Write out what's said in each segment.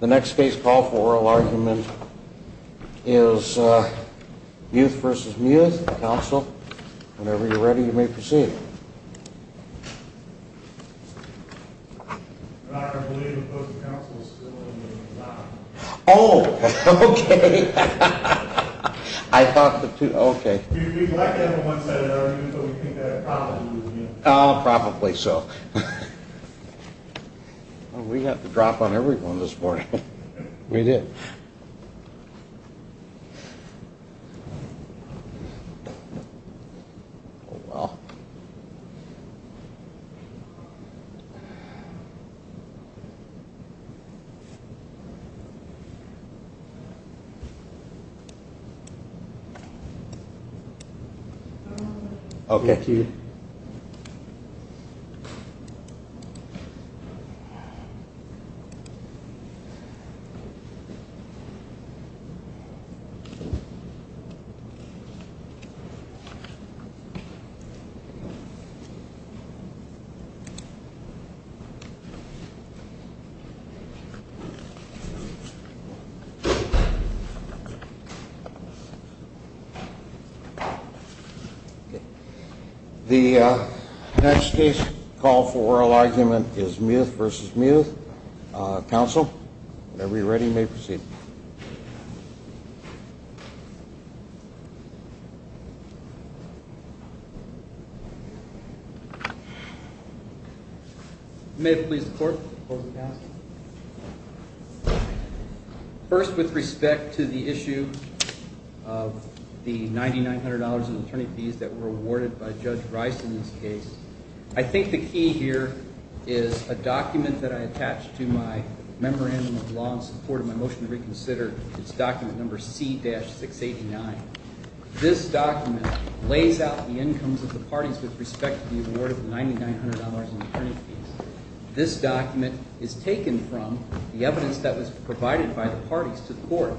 The next case call for oral argument is Mueth v. Mueth, counsel. Whenever you're ready, you may proceed. I believe the person counsel is still in the design. Oh, okay. I thought the two, okay. We'd like to have a one-sided argument, but we think that probably was Mueth. Oh, probably so. We got the drop on everyone this morning. We did. Okay. Thank you. Thank you. Thank you. Next case is Mueth v. Mueth, counsel. Whenever you're ready, you may proceed. May it please the court, the closing counsel. First, with respect to the issue of the $9,900 in attorney fees that were awarded by Judge Rice in this case, I think the key here is a document that I attached to my memorandum of law in support of my motion to reconsider. It's document number C-689. This document lays out the incomes of the parties with respect to the award of $9,900 in attorney fees. This document is taken from the evidence that was provided by the parties to the court.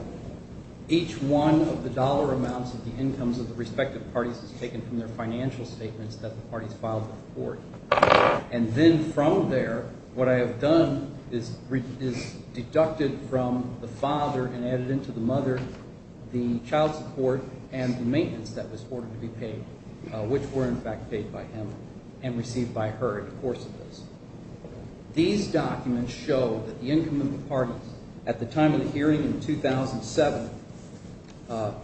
Each one of the dollar amounts of the incomes of the respective parties is taken from their financial statements that the parties filed with the court. And then from there, what I have done is deducted from the father and added into the mother the child support and the maintenance that was ordered to be paid, which were, in fact, paid by him and received by her in the course of this. These documents show that the income of the parties at the time of the hearing in 2007, at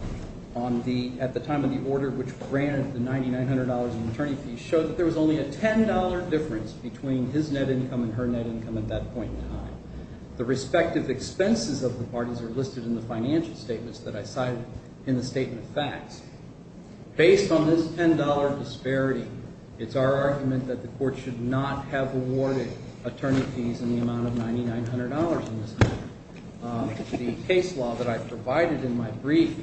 the time of the order which granted the $9,900 in attorney fees, showed that there was only a $10 difference between his net income and her net income at that point in time. The respective expenses of the parties are listed in the financial statements that I cited in the statement of facts. Based on this $10 disparity, it's our argument that the court should not have awarded attorney fees in the amount of $9,900 in this case. The case law that I provided in my brief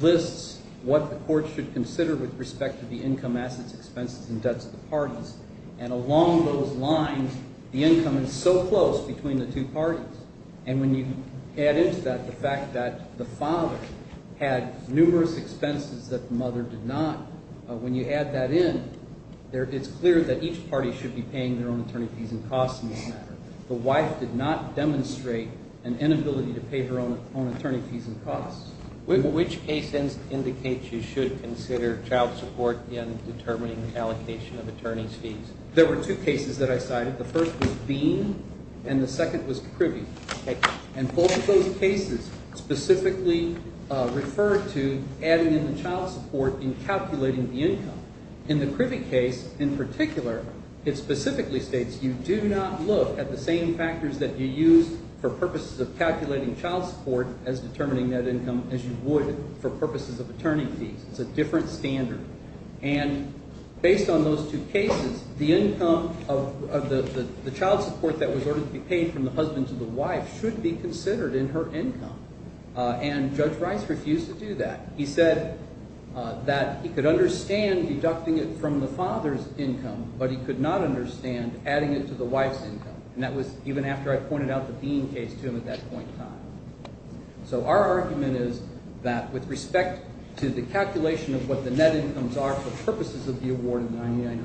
lists what the court should consider with respect to the income, assets, expenses, and debts of the parties. And along those lines, the income is so close between the two parties. And when you add into that the fact that the father had numerous expenses that the mother did not, when you add that in, it's clear that each party should be paying their own attorney fees and costs in this matter. The wife did not demonstrate an inability to pay her own attorney fees and costs. Which case indicates you should consider child support in determining allocation of attorney fees? There were two cases that I cited. The first was Bean and the second was Krivy. And both of those cases specifically referred to adding in the child support in calculating the income. In the Krivy case in particular, it specifically states you do not look at the same factors that you use for purposes of calculating child support as determining net income as you would for purposes of attorney fees. It's a different standard. And based on those two cases, the income of the child support that was ordered to be paid from the husband to the wife should be considered in her income. And Judge Rice refused to do that. He said that he could understand deducting it from the father's income, but he could not understand adding it to the wife's income. And that was even after I pointed out the Bean case to him at that point in time. So our argument is that with respect to the calculation of what the net incomes are for purposes of the award of $9,900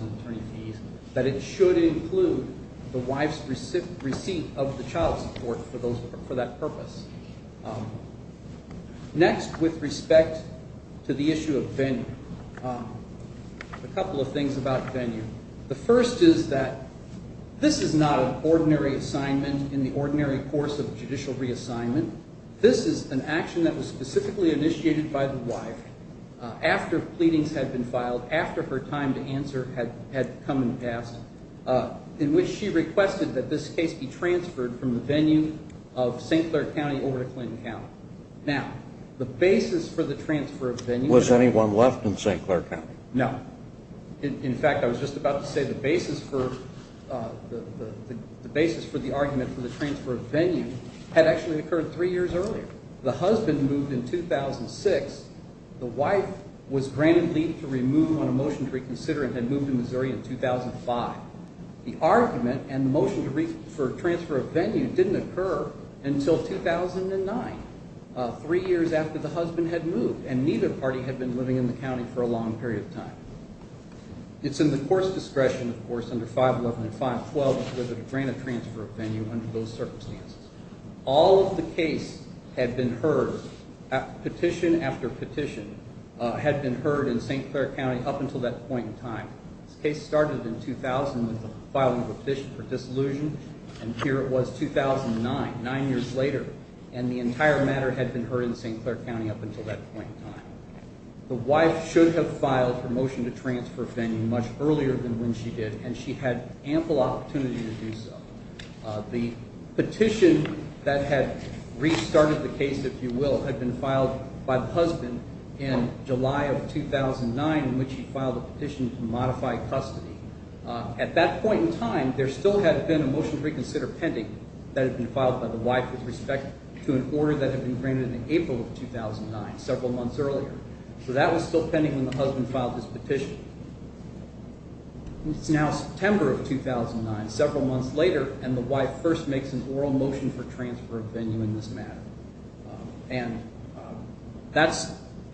in attorney fees, that it should include the wife's receipt of the child support for that purpose. Next, with respect to the issue of venue, a couple of things about venue. The first is that this is not an ordinary assignment in the ordinary course of judicial reassignment. This is an action that was specifically initiated by the wife after pleadings had been filed, after her time to answer had come and passed, in which she requested that this case be transferred from the venue of St. Clair County over to Clinton County. Now, the basis for the transfer of venue... Was anyone left in St. Clair County? No. In fact, I was just about to say the basis for the argument for the transfer of venue had actually occurred three years earlier. The husband moved in 2006. The wife was granted leave to remove on a motion to reconsider and had moved to Missouri in 2005. The argument and motion for transfer of venue didn't occur until 2009, three years after the husband had moved, and neither party had been living in the county for a long period of time. It's in the court's discretion, of course, under 511 and 512, whether to grant a transfer of venue under those circumstances. All of the case had been heard, petition after petition, had been heard in St. Clair County up until that point in time. This case started in 2000 with the filing of a petition for dissolution, and here it was 2009, nine years later, and the entire matter had been heard in St. Clair County up until that point in time. The wife should have filed her motion to transfer venue much earlier than when she did, and she had ample opportunity to do so. The petition that had restarted the case, if you will, had been filed by the husband in July of 2009, in which he filed a petition to modify custody. At that point in time, there still had been a motion to reconsider pending that had been filed by the wife with respect to an order that had been granted in April of 2009, several months earlier. So that was still pending when the husband filed his petition. It's now September of 2009, several months later, and the wife first makes an oral motion for transfer of venue in this matter. And that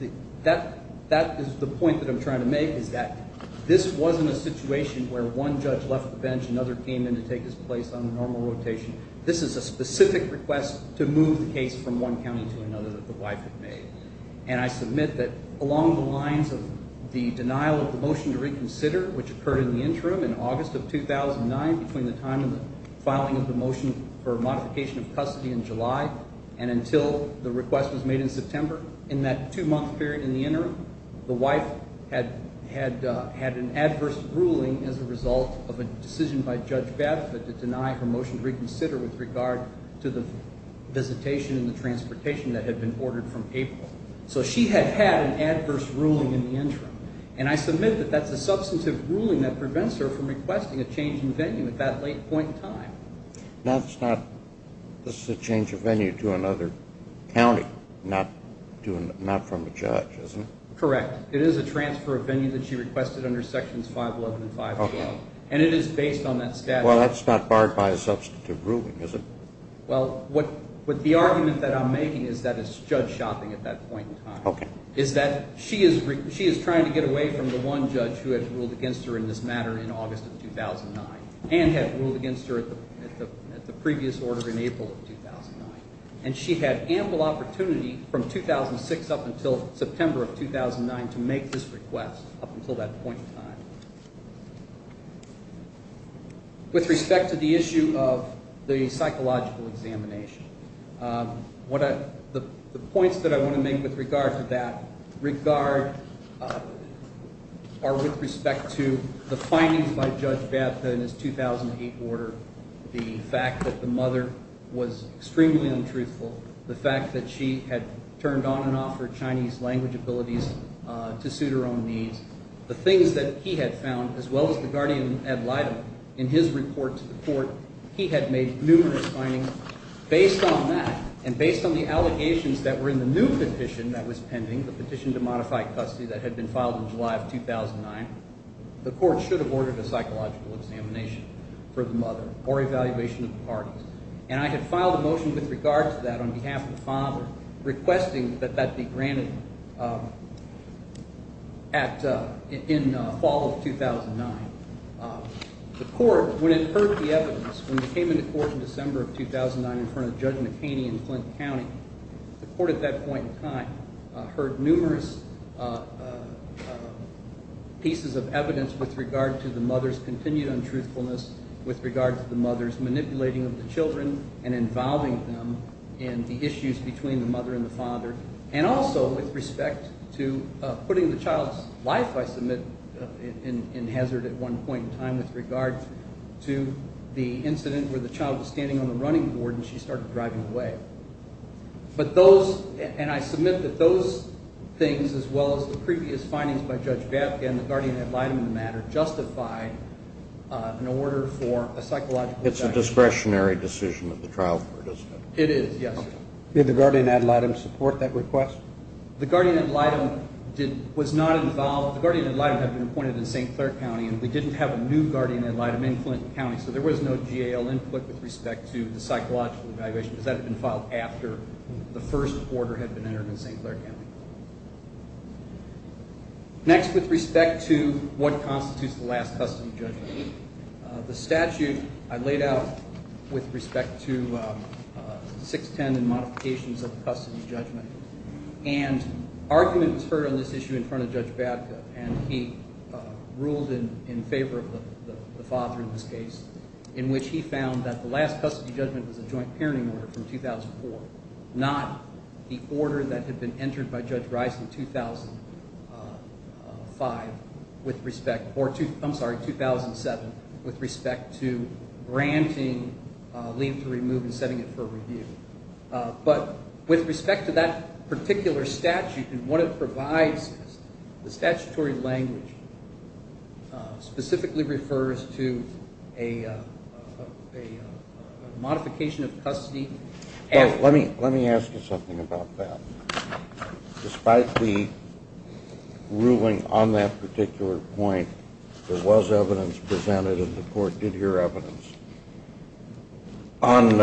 is the point that I'm trying to make, is that this wasn't a situation where one judge left the bench, another came in to take his place on the normal rotation. This is a specific request to move the case from one county to another that the wife had made. And I submit that along the lines of the denial of the motion to reconsider, which occurred in the interim in August of 2009, between the time of the filing of the motion for modification of custody in July and until the request was made in September, in that two-month period in the interim, the wife had an adverse ruling as a result of a decision by Judge Baffet to deny her motion to reconsider with regard to the visitation and the transportation that had been ordered from April. So she had had an adverse ruling in the interim. And I submit that that's a substantive ruling that prevents her from requesting a change in venue at that late point in time. This is a change of venue to another county, not from a judge, isn't it? Correct. It is a transfer of venue that she requested under Sections 511 and 512. And it is based on that statute. Well, that's not barred by a substantive ruling, is it? Well, the argument that I'm making is that it's judge shopping at that point in time. Okay. Is that she is trying to get away from the one judge who had ruled against her in this matter in August of 2009 and had ruled against her at the previous order in April of 2009. And she had ample opportunity from 2006 up until September of 2009 to make this request up until that point in time. With respect to the issue of the psychological examination, the points that I want to make with regard to that are with respect to the findings by Judge Bapta in his 2008 order, the fact that the mother was extremely untruthful, the fact that she had turned on and off her Chinese language abilities to suit her own needs, the things that he had found, as well as the guardian, Ed Lydum, in his report to the court. He had made numerous findings. Based on that and based on the allegations that were in the new petition that was pending, the petition to modify custody that had been filed in July of 2009, the court should have ordered a psychological examination for the mother or evaluation of the parties. And I had filed a motion with regard to that on behalf of the father, requesting that that be granted in fall of 2009. The court, when it heard the evidence, when it came into court in December of 2009 in front of Judge McHaney in Flint County, the court at that point in time heard numerous pieces of evidence with regard to the mother's continued untruthfulness, with regard to the mother's manipulating of the children and involving them in the issues between the mother and the father, and also with respect to putting the child's life, I submit, in hazard at one point in time with regard to the incident where the child was standing on the running board and she started driving away. But those, and I submit that those things, as well as the previous findings by Judge Babkin, the guardian, Ed Lydum, in the matter, justified an order for a psychological examination. It's a discretionary decision of the trial court, isn't it? It is, yes. Did the guardian, Ed Lydum, support that request? The guardian, Ed Lydum, was not involved. The guardian, Ed Lydum, had been appointed in St. Clair County, and we didn't have a new guardian, Ed Lydum, in Flint County, so there was no GAO input with respect to the psychological evaluation, because that had been filed after the first order had been entered in St. Clair County. Next, with respect to what constitutes the last custody judgment. The statute I laid out with respect to 610 and modifications of the custody judgment, and argument was heard on this issue in front of Judge Babkin, and he ruled in favor of the father in this case, in which he found that the last custody judgment was a joint parenting order from 2004, not the order that had been entered by Judge Rice in 2005 with respect to, I'm sorry, 2007, with respect to granting leave to remove and setting it for review. But with respect to that particular statute and what it provides, the statutory language specifically refers to a modification of custody. Let me ask you something about that. Despite the ruling on that particular point, there was evidence presented and the court did hear evidence on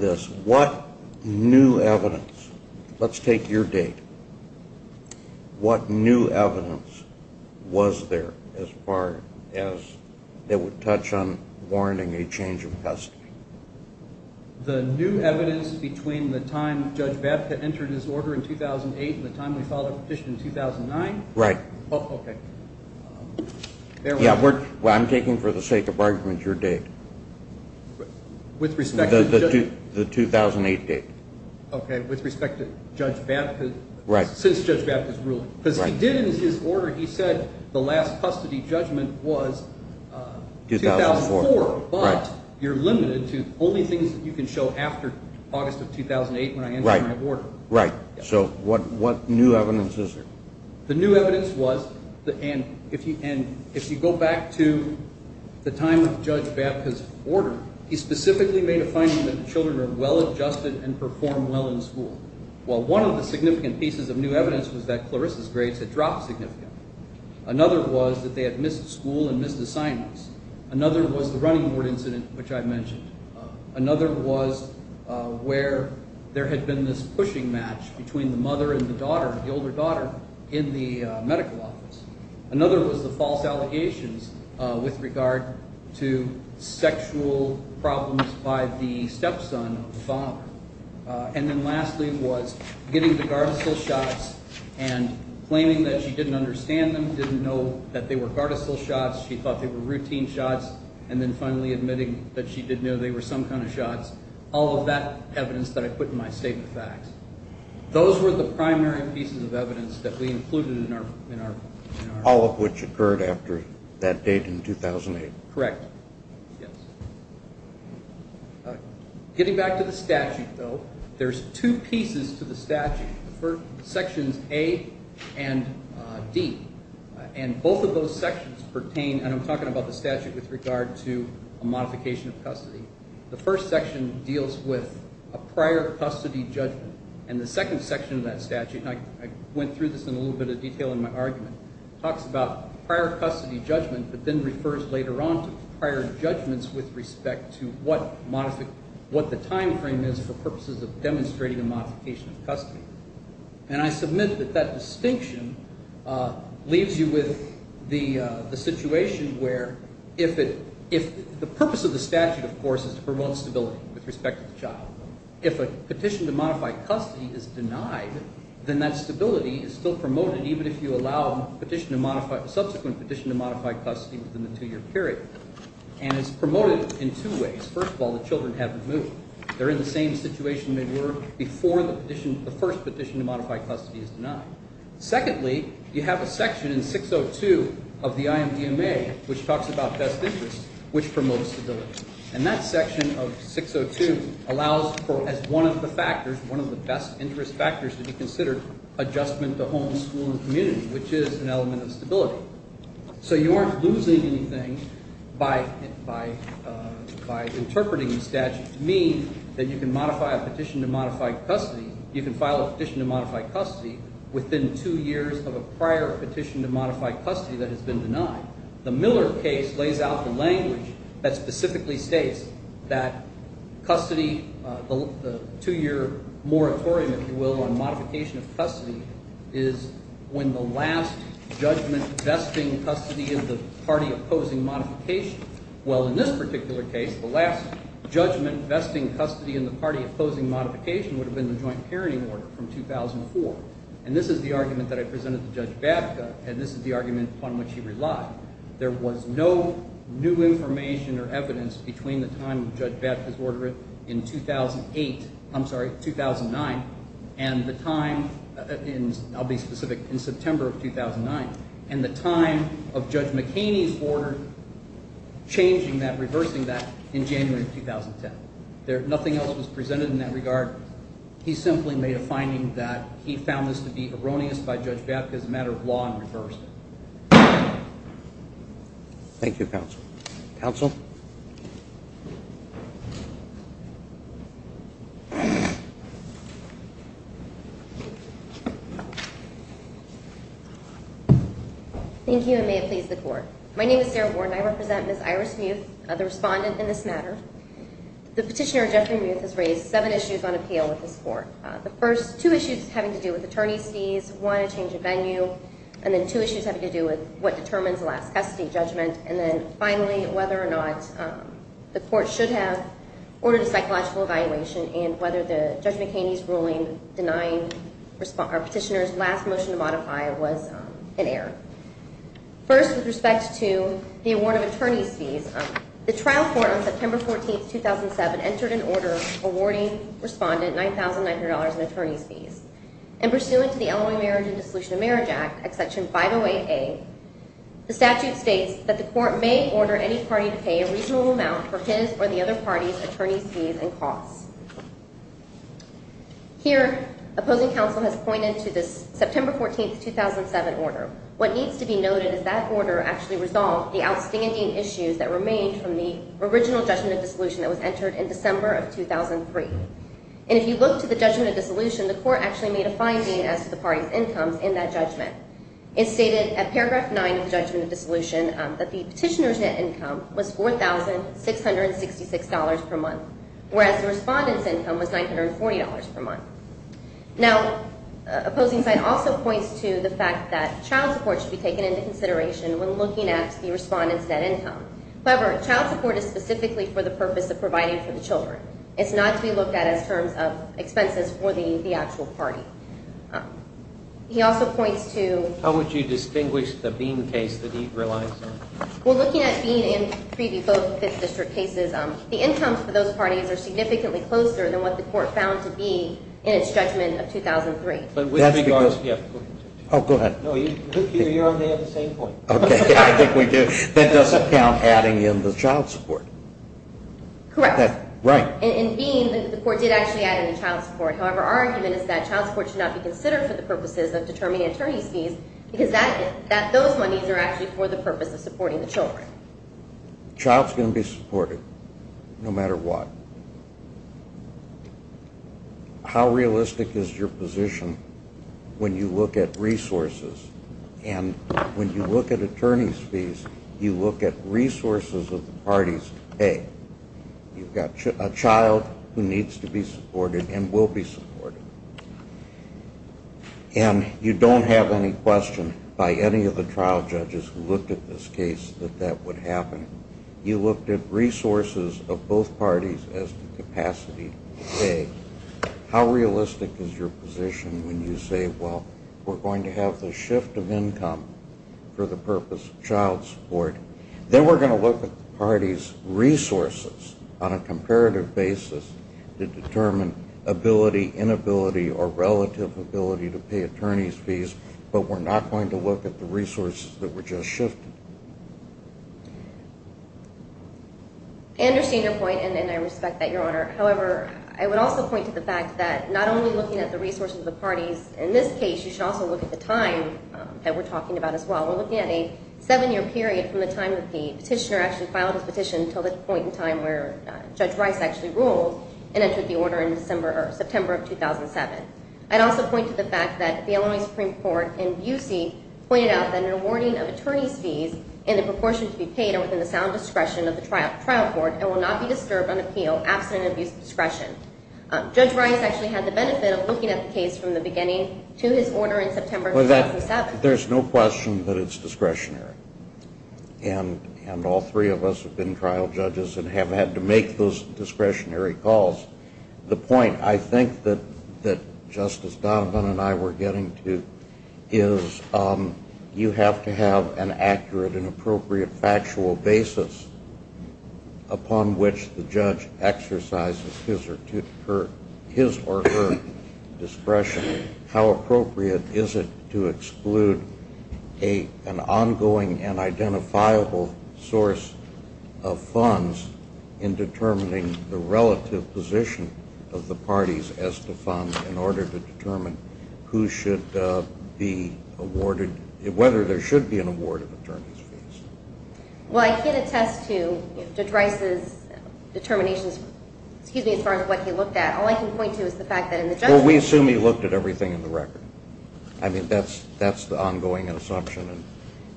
this. What new evidence, let's take your date, what new evidence was there as far as it would touch on warranting a change of custody? The new evidence between the time Judge Babkin entered his order in 2008 and the time we filed our petition in 2009? Right. Oh, okay. Yeah, I'm taking for the sake of argument your date. With respect to Judge Babkin? The 2008 date. Okay, with respect to Judge Babkin, since Judge Babkin's ruling. Because he did, in his order, he said the last custody judgment was 2004, but you're limited to only things that you can show after August of 2008 when I enter my order. Right. So what new evidence is there? The new evidence was, and if you go back to the time of Judge Babkin's order, he specifically made a finding that children are well-adjusted and perform well in school. Well, one of the significant pieces of new evidence was that Clarissa's grades had dropped significantly. Another was that they had missed school and missed assignments. Another was the running board incident, which I mentioned. Another was where there had been this pushing match between the mother and the daughter, the older daughter, in the medical office. Another was the false allegations with regard to sexual problems by the stepson of the father. And then lastly was getting the Gardasil shots and claiming that she didn't understand them, that she didn't know that they were Gardasil shots, she thought they were routine shots, and then finally admitting that she did know they were some kind of shots. All of that evidence that I put in my statement of facts. Those were the primary pieces of evidence that we included in our- All of which occurred after that date in 2008. Correct. Yes. Getting back to the statute, though, there's two pieces to the statute. Sections A and D. And both of those sections pertain, and I'm talking about the statute with regard to a modification of custody. The first section deals with a prior custody judgment. And the second section of that statute, and I went through this in a little bit of detail in my argument, talks about prior custody judgment, but then refers later on to prior judgments with respect to what the time frame is for purposes of demonstrating a modification of custody. And I submit that that distinction leaves you with the situation where if the purpose of the statute, of course, is to promote stability with respect to the child, if a petition to modify custody is denied, then that stability is still promoted even if you allow a petition to modify- a subsequent petition to modify custody within the two-year period. And it's promoted in two ways. First of all, the children haven't moved. They're in the same situation they were before the first petition to modify custody is denied. Secondly, you have a section in 602 of the IMDMA, which talks about best interests, which promotes stability. And that section of 602 allows for, as one of the factors, one of the best interest factors to be considered, adjustment to homes, school, and community, which is an element of stability. So you aren't losing anything by interpreting the statute to mean that you can modify a petition to modify custody. You can file a petition to modify custody within two years of a prior petition to modify custody that has been denied. The Miller case lays out the language that specifically states that custody, the two-year moratorium, if you will, on modification of custody is when the last judgment vesting custody in the party opposing modification. Well, in this particular case, the last judgment vesting custody in the party opposing modification would have been the joint parenting order from 2004. And this is the argument that I presented to Judge Babka, and this is the argument upon which he relied. There was no new information or evidence between the time that Judge Babka's order in 2008 – I'm sorry, 2009 – and the time in – I'll be specific – in September of 2009 and the time of Judge McHaney's order changing that, reversing that in January of 2010. Nothing else was presented in that regard. He simply made a finding that he found this to be erroneous by Judge Babka as a matter of law and reversed it. Thank you, counsel. Counsel? Thank you, and may it please the Court. My name is Sarah Warren. I represent Ms. Iris Muth, the respondent in this matter. The Petitioner, Jeffrey Muth, has raised seven issues on appeal with this Court. The first, two issues having to do with attorney's fees, one, a change of venue, and then two issues having to do with what determines the last custody judgment, and then finally, whether or not the Court should have ordered a psychological evaluation and whether the Judge McHaney's ruling denying our Petitioner's last motion to modify was an error. The trial court on September 14, 2007, entered an order awarding respondent $9,900 in attorney's fees, and pursuant to the Illinois Marriage and Dissolution of Marriage Act, section 508A, the statute states that the Court may order any party to pay a reasonable amount for his or the other party's attorney's fees and costs. Here, opposing counsel has pointed to this September 14, 2007 order. What needs to be noted is that order actually resolved the outstanding issues that remained from the original judgment of dissolution that was entered in December of 2003. And if you look to the judgment of dissolution, the Court actually made a finding as to the party's income in that judgment. It stated at paragraph 9 of the judgment of dissolution that the Petitioner's net income was $4,666 per month, whereas the respondent's income was $940 per month. Now, opposing side also points to the fact that child support should be taken into consideration when looking at the respondent's net income. However, child support is specifically for the purpose of providing for the children. It's not to be looked at as terms of expenses for the actual party. He also points to… How would you distinguish the Bean case that he relies on? Well, looking at Bean and Prevey, both 5th District cases, the incomes for those parties are significantly closer than what the Court found to be in its judgment of 2003. Oh, go ahead. No, you're on the same point. Okay. I think we do. That doesn't count adding in the child support. Correct. Right. In Bean, the Court did actually add in the child support. However, our argument is that child support should not be considered for the purposes of determining attorney's fees because those monies are actually for the purpose of supporting the children. Child's going to be supported no matter what. How realistic is your position when you look at resources and when you look at attorney's fees, you look at resources of the parties to pay? You've got a child who needs to be supported and will be supported. And you don't have any question by any of the trial judges who looked at this case that that would happen. You looked at resources of both parties as the capacity to pay. How realistic is your position when you say, well, we're going to have the shift of income for the purpose of child support. Then we're going to look at the parties' resources on a comparative basis to determine ability, inability, or relative ability to pay attorney's fees. But we're not going to look at the resources that were just shifted. I understand your point, and I respect that, Your Honor. However, I would also point to the fact that not only looking at the resources of the parties, in this case you should also look at the time that we're talking about as well. We're looking at a seven-year period from the time that the petitioner actually filed his petition until the point in time where Judge Rice actually ruled and entered the order in September of 2007. I'd also point to the fact that the Illinois Supreme Court in Busey pointed out that an awarding of attorney's fees in the proportion to be paid are within the sound discretion of the trial court and will not be disturbed on appeal absent an abuse of discretion. Judge Rice actually had the benefit of looking at the case from the beginning to his order in September of 2007. There's no question that it's discretionary. And all three of us have been trial judges and have had to make those discretionary calls. The point I think that Justice Donovan and I were getting to is you have to have an accurate and appropriate factual basis upon which the judge exercises his or her discretion. How appropriate is it to exclude an ongoing and identifiable source of funds in determining the relative position of the parties as to funds in order to determine whether there should be an award of attorney's fees. Well, I can't attest to Judge Rice's determinations as far as what he looked at. All I can point to is the fact that in the judgment... Well, we assume he looked at everything in the record. I mean, that's the ongoing assumption.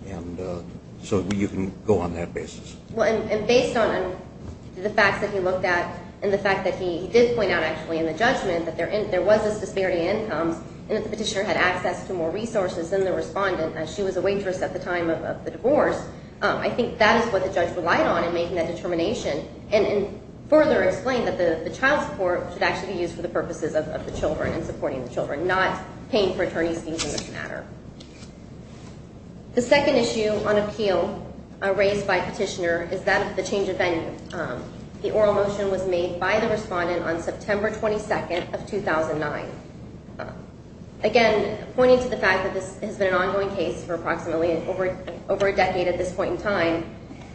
And so you can go on that basis. Well, and based on the facts that he looked at and the fact that he did point out actually in the judgment that there was this disparity in incomes and that the petitioner had access to more resources than the respondent as she was a waitress at the time of the divorce, I think that is what the judge relied on in making that determination and further explained that the child support should actually be used for the purposes of the children and supporting the children, not paying for attorney's fees in this matter. The second issue on appeal raised by petitioner is that of the change of venue. The oral motion was made by the respondent on September 22nd of 2009. Again, pointing to the fact that this has been an ongoing case for approximately over a decade at this point in time,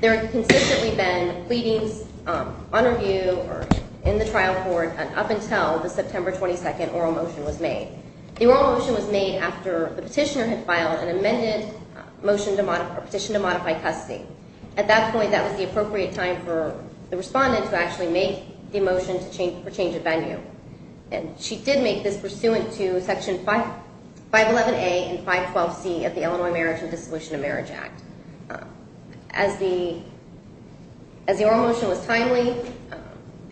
there have consistently been pleadings on review or in the trial court up until the September 22nd oral motion was made. The oral motion was made after the petitioner had filed an amended petition to modify custody. At that point, that was the appropriate time for the respondent to actually make the motion for change of venue. And she did make this pursuant to Section 511A and 512C of the Illinois Marriage and Dissolution of Marriage Act. As the oral motion was timely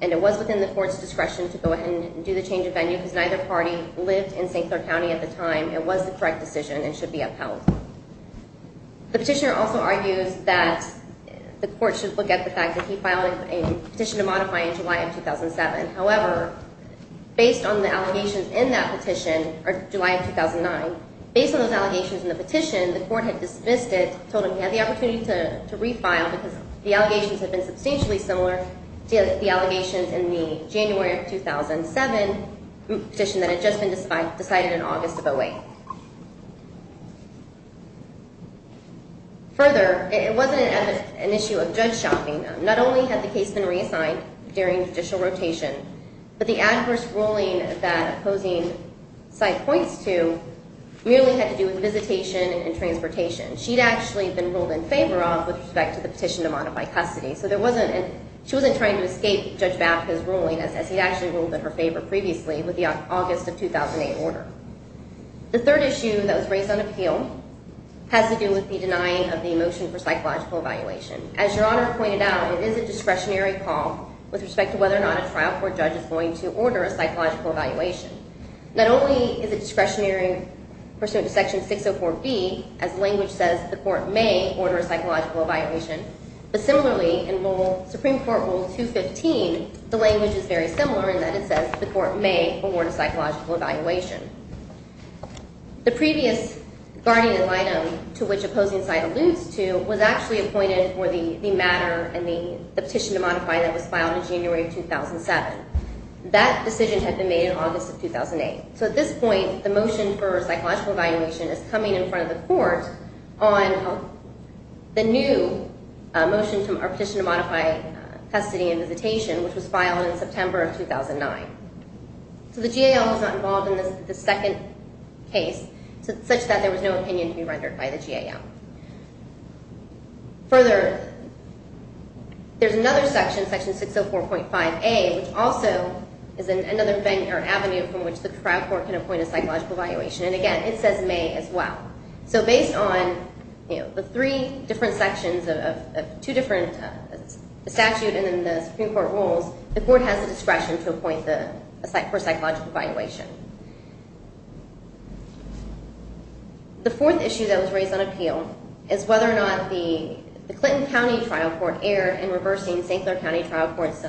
and it was within the court's discretion to go ahead and do the change of venue because neither party lived in St. Clair County at the time, it was the correct decision and should be upheld. The petitioner also argues that the court should look at the fact that he filed a petition to modify in July of 2007. However, based on the allegations in that petition, or July of 2009, based on those allegations in the petition, the court had dismissed it, told him he had the opportunity to refile because the allegations had been substantially similar to the allegations in the January of 2007 petition that had just been decided in August of 08. Further, it wasn't an issue of judge shopping. Not only had the case been reassigned during judicial rotation, but the adverse ruling that opposing side points to merely had to do with visitation and transportation. She'd actually been ruled in favor of with respect to the petition to modify custody. So she wasn't trying to escape Judge Bath's ruling as he'd actually ruled in her favor previously with the August of 2008 order. The third issue that was raised on appeal has to do with the denying of the motion for psychological evaluation. As Your Honor pointed out, it is a discretionary call with respect to whether or not a trial court judge is going to order a psychological evaluation. Not only is it discretionary pursuant to Section 604B, as language says, the court may order a psychological evaluation, but similarly in Supreme Court Rule 215, the language is very similar in that it says the court may award a psychological evaluation. The previous guardian item to which opposing side alludes to was actually appointed for the matter and the petition to modify that was filed in January of 2007. That decision had been made in August of 2008. So at this point, the motion for psychological evaluation is coming in front of the court on the new petition to modify custody and visitation, which was filed in September of 2009. So the GAL was not involved in the second case such that there was no opinion to be rendered by the GAL. Further, there's another section, Section 604.5A, which also is another avenue from which the trial court can appoint a psychological evaluation. And again, it says may as well. So based on the three different sections of two different statutes and then the Supreme Court rules, the court has the discretion to appoint for psychological evaluation. The fourth issue that was raised on appeal is whether or not the Clinton County Trial Court erred in reversing St. Clair County Trial Court's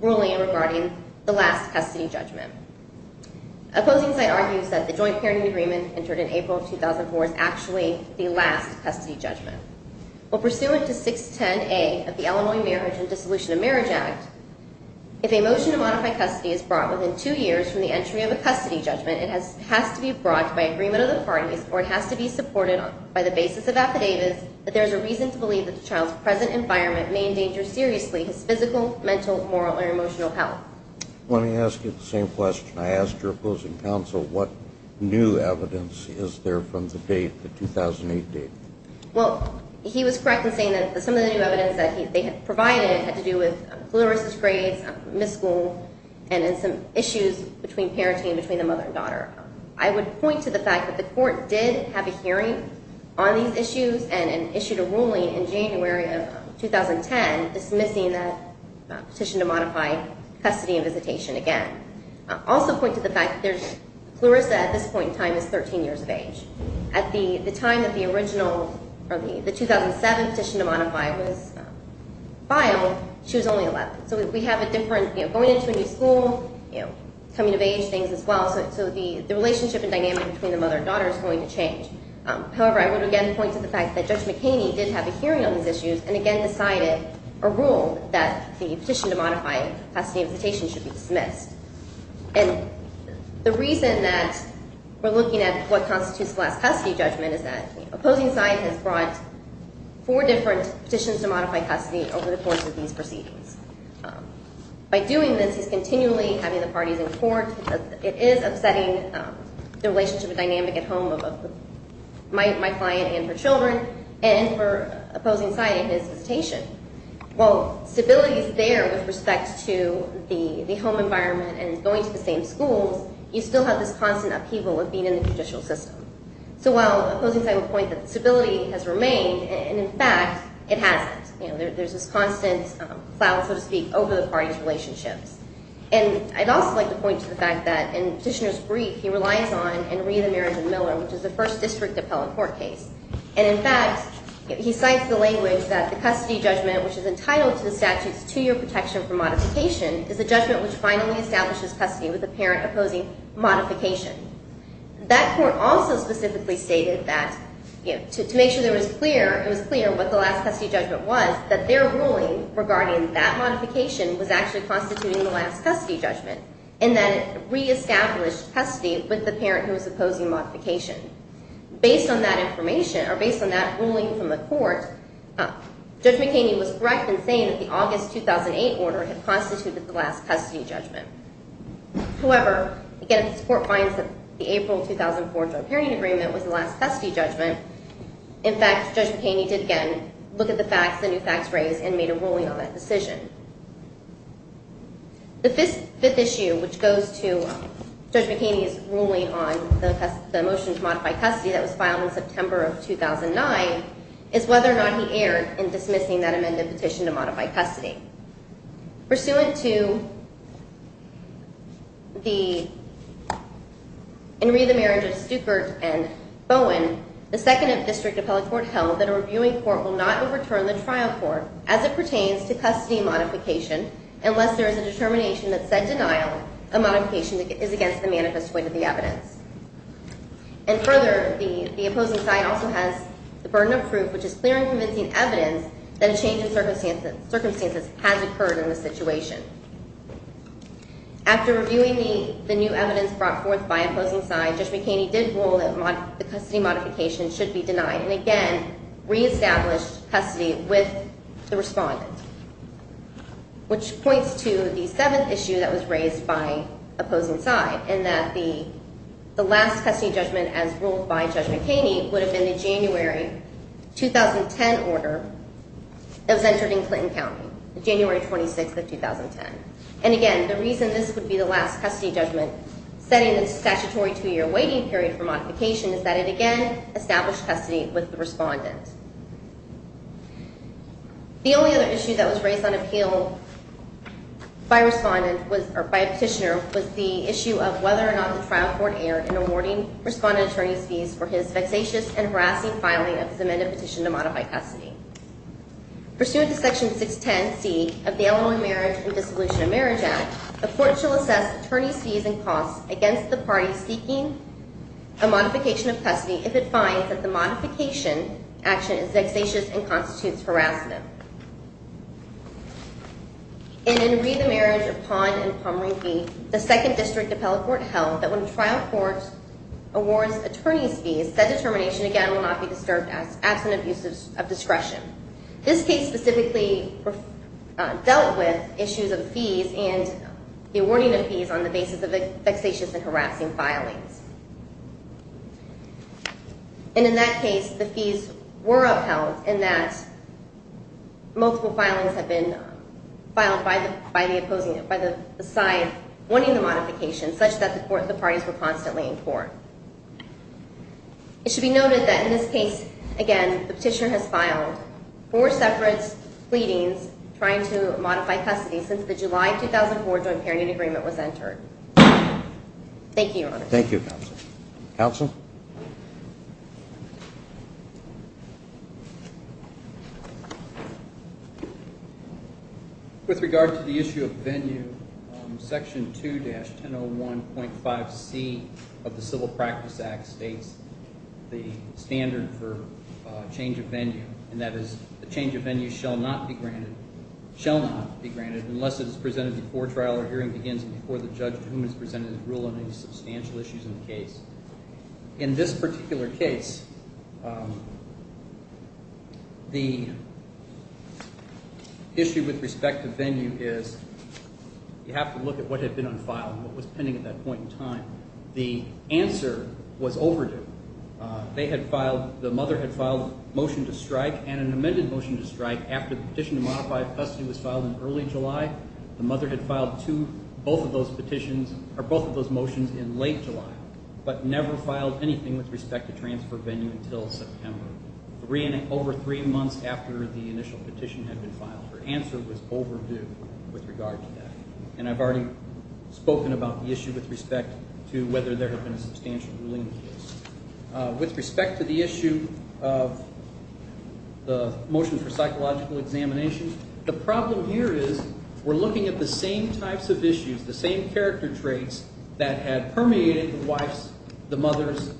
ruling regarding the last custody judgment. Opposing side argues that the joint pairing agreement entered in April of 2004 is actually the last custody judgment. Well, pursuant to 610A of the Illinois Marriage and Dissolution of Marriage Act, if a motion to modify custody is brought within two years from the entry of a custody judgment, it has to be brought by agreement of the parties or it has to be supported by the basis of affidavits that there is a reason to believe that the child's present environment may endanger seriously his physical, mental, moral, or emotional health. Let me ask you the same question. I asked your opposing counsel what new evidence is there from the date, the 2008 date. Well, he was correct in saying that some of the new evidence that they had provided had to do with Clarissa's grades, missed school, and then some issues between parenting between the mother and daughter. I would point to the fact that the court did have a hearing on these issues and issued a ruling in January of 2010 dismissing that petition to modify custody and visitation again. I'll also point to the fact that Clarissa at this point in time is 13 years of age. At the time that the 2007 petition to modify was filed, she was only 11. So we have a different going into a new school, coming of age things as well. So the relationship and dynamic between the mother and daughter is going to change. However, I would again point to the fact that Judge McHaney did have a hearing on these issues and again decided or ruled that the petition to modify custody and visitation should be dismissed. And the reason that we're looking at what constitutes the last custody judgment is that opposing side has brought four different petitions to modify custody over the course of these proceedings. By doing this, he's continually having the parties in court. It is upsetting the relationship and dynamic at home of my client and her children and for opposing side in his visitation. While stability is there with respect to the home environment and going to the same schools, you still have this constant upheaval of being in the judicial system. So while opposing side would point that stability has remained, and in fact, it hasn't. There's this constant plow, so to speak, over the parties' relationships. And I'd also like to point to the fact that in Petitioner's brief, he relies on Henri the Marriage of Miller, which is the first district appellate court case. And in fact, he cites the language that the custody judgment, which is entitled to the statute's two-year protection for modification, is a judgment which finally establishes custody with the parent opposing modification. That court also specifically stated that to make sure it was clear what the last custody judgment was, that their ruling regarding that modification was actually constituting the last custody judgment and that it reestablished custody with the parent who was opposing modification. Based on that information, or based on that ruling from the court, Judge McHaney was correct in saying that the August 2008 order had constituted the last custody judgment. However, again, this court finds that the April 2004 joint parenting agreement was the last custody judgment. In fact, Judge McHaney did, again, look at the facts, the new facts raised, and made a ruling on that decision. The fifth issue, which goes to Judge McHaney's ruling on the motion to modify custody that was filed in September of 2009, is whether or not he erred in dismissing that amended petition to modify custody. Pursuant to the Henri the Marriage of Stueckert and Bowen, the 2nd District Appellate Court held that a reviewing court will not overturn the trial court as it pertains to custody modification unless there is a determination that said denial of modification is against the manifest weight of the evidence. And further, the opposing side also has the burden of proof, which is clear in convincing evidence that a change in circumstances has occurred in the situation. After reviewing the new evidence brought forth by opposing side, Judge McHaney did rule that the custody modification should be denied, and again re-established custody with the respondent, which points to the seventh issue that was raised by opposing side, in that the last custody judgment as ruled by Judge McHaney would have been the January 2010 order that was entered in Clinton County, January 26th of 2010. And again, the reason this would be the last custody judgment, setting a statutory two-year waiting period for modification, is that it again established custody with the respondent. The only other issue that was raised on appeal by a petitioner was the issue of whether or not the trial court erred in awarding respondent attorney's fees for his vexatious and harassing filing of his amended petition to modify custody. Pursuant to Section 610C of the Illinois Marriage and Dissolution of Marriage Act, the court shall assess attorney's fees and costs against the party seeking a modification of custody if it finds that the modification action is vexatious and constitutes harassment. And in Ree, the Marriage of Pond and Pomeroy B, the second district appellate court held that when a trial court awards attorney's fees, that determination, again, will not be disturbed absent abuse of discretion. This case specifically dealt with issues of fees and the awarding of fees on the basis of vexatious and harassing filings. And in that case, the fees were upheld in that multiple filings have been filed by the side wanting the modification such that the parties were constantly in court. It should be noted that in this case, again, the petitioner has filed four separate pleadings trying to modify custody since the July 2004 joint parenting agreement was entered. Thank you, Your Honor. Thank you, Counsel. Counsel? With regard to the issue of venue, Section 2-101.5C of the Civil Practice Act states the standard for change of venue, and that is the change of venue shall not be granted unless it is presented before trial or hearing begins and before the judge to whom it is presented is ruled on any substantial issues in the case. In this particular case, the issue with respect to venue is you have to look at what had been unfiled, what was pending at that point in time. The answer was overdue. They had filed, the mother had filed a motion to strike and an amended motion to strike after the petition to modify custody was filed in early July. The mother had filed both of those motions in late July, but never filed anything with respect to transfer venue until September, over three months after the initial petition had been filed. Her answer was overdue with regard to that. And I've already spoken about the issue with respect to whether there had been a substantial ruling in the case. With respect to the issue of the motion for psychological examination, the problem here is we're looking at the same types of issues, the same character traits, that had permeated the wife's, the mother's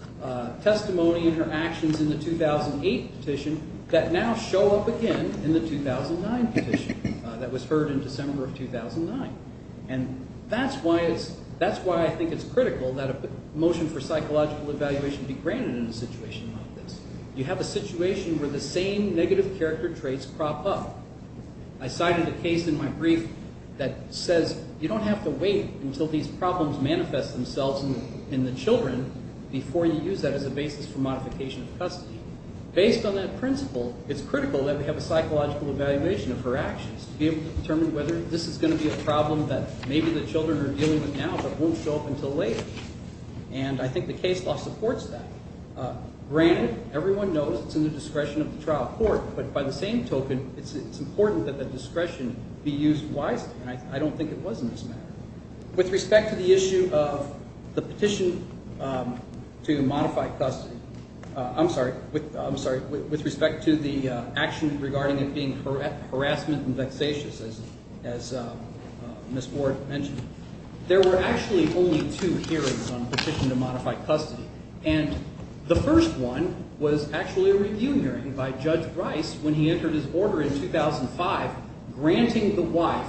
testimony and her actions in the 2008 petition that now show up again in the 2009 petition that was heard in December of 2009. And that's why I think it's critical that a motion for psychological evaluation be granted in a situation like this. You have a situation where the same negative character traits crop up. I cited a case in my brief that says you don't have to wait until these problems manifest themselves in the children before you use that as a basis for modification of custody. Based on that principle, it's critical that we have a psychological evaluation of her actions to be able to determine whether this is going to be a problem that maybe the children are dealing with now but won't show up until later. And I think the case law supports that. Granted, everyone knows it's in the discretion of the trial court, but by the same token it's important that that discretion be used wisely, and I don't think it was in this matter. With respect to the issue of the petition to modify custody, I'm sorry, with respect to the action regarding it being harassment and vexatious, as Ms. Ward mentioned, there were actually only two hearings on the petition to modify custody. And the first one was actually a review hearing by Judge Rice when he entered his order in 2005, granting the wife,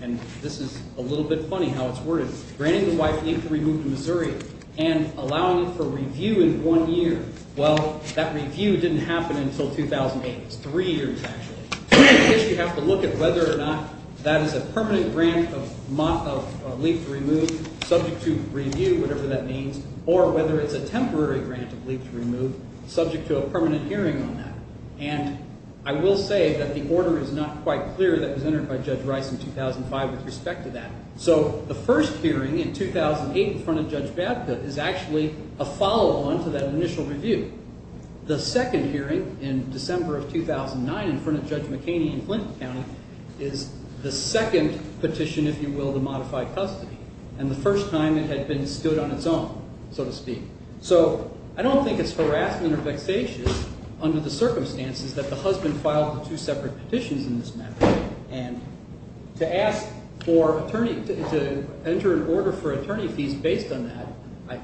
and this is a little bit funny how it's worded, granting the wife leave to remove to Missouri and allowing it for review in one year. Well, that review didn't happen until 2008. It's three years, actually. You have to look at whether or not that is a permanent grant of leave to remove, subject to review, whatever that means, or whether it's a temporary grant of leave to remove subject to a permanent hearing on that. And I will say that the order is not quite clear that was entered by Judge Rice in 2005 with respect to that. So the first hearing in 2008 in front of Judge Babcock is actually a follow-on to that initial review. The second hearing in December of 2009 in front of Judge McKaney in Clinton County is the second petition, if you will, to modify custody. And the first time it had been stood on its own, so to speak. So I don't think it's harassment or vexation under the circumstances that the husband filed the two separate petitions in this matter. And to enter an order for attorney fees based on that,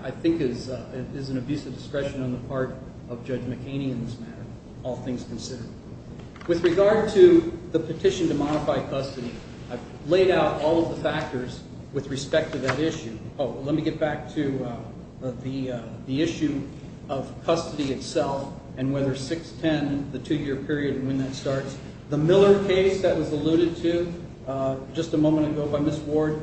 I think, is an abuse of discretion on the part of Judge McKaney in this matter, all things considered. With regard to the petition to modify custody, I've laid out all of the factors with respect to that issue. Oh, let me get back to the issue of custody itself and whether 6-10, the two-year period, and when that starts. The Miller case that was alluded to just a moment ago by Ms. Ward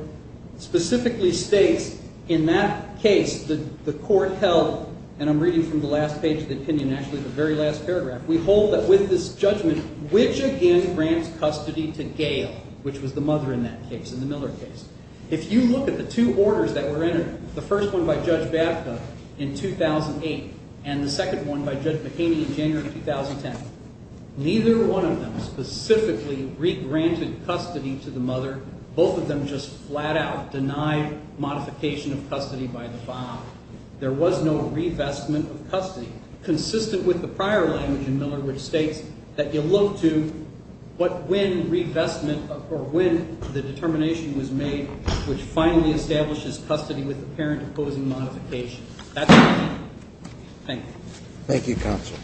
specifically states in that case that the court held, and I'm reading from the last page of the opinion, actually the very last paragraph, we hold that with this judgment, which again grants custody to Gail, which was the mother in that case, in the Miller case. If you look at the two orders that were entered, the first one by Judge Babcock in 2008 and the second one by Judge McKaney in January of 2010, neither one of them specifically re-granted custody to the mother. Both of them just flat out denied modification of custody by the father. There was no revestment of custody. It's consistent with the prior language in Miller, which states that you look to when revestment or when the determination was made which finally establishes custody with the parent opposing modification. That's it. Thank you. Thank you, Counsel.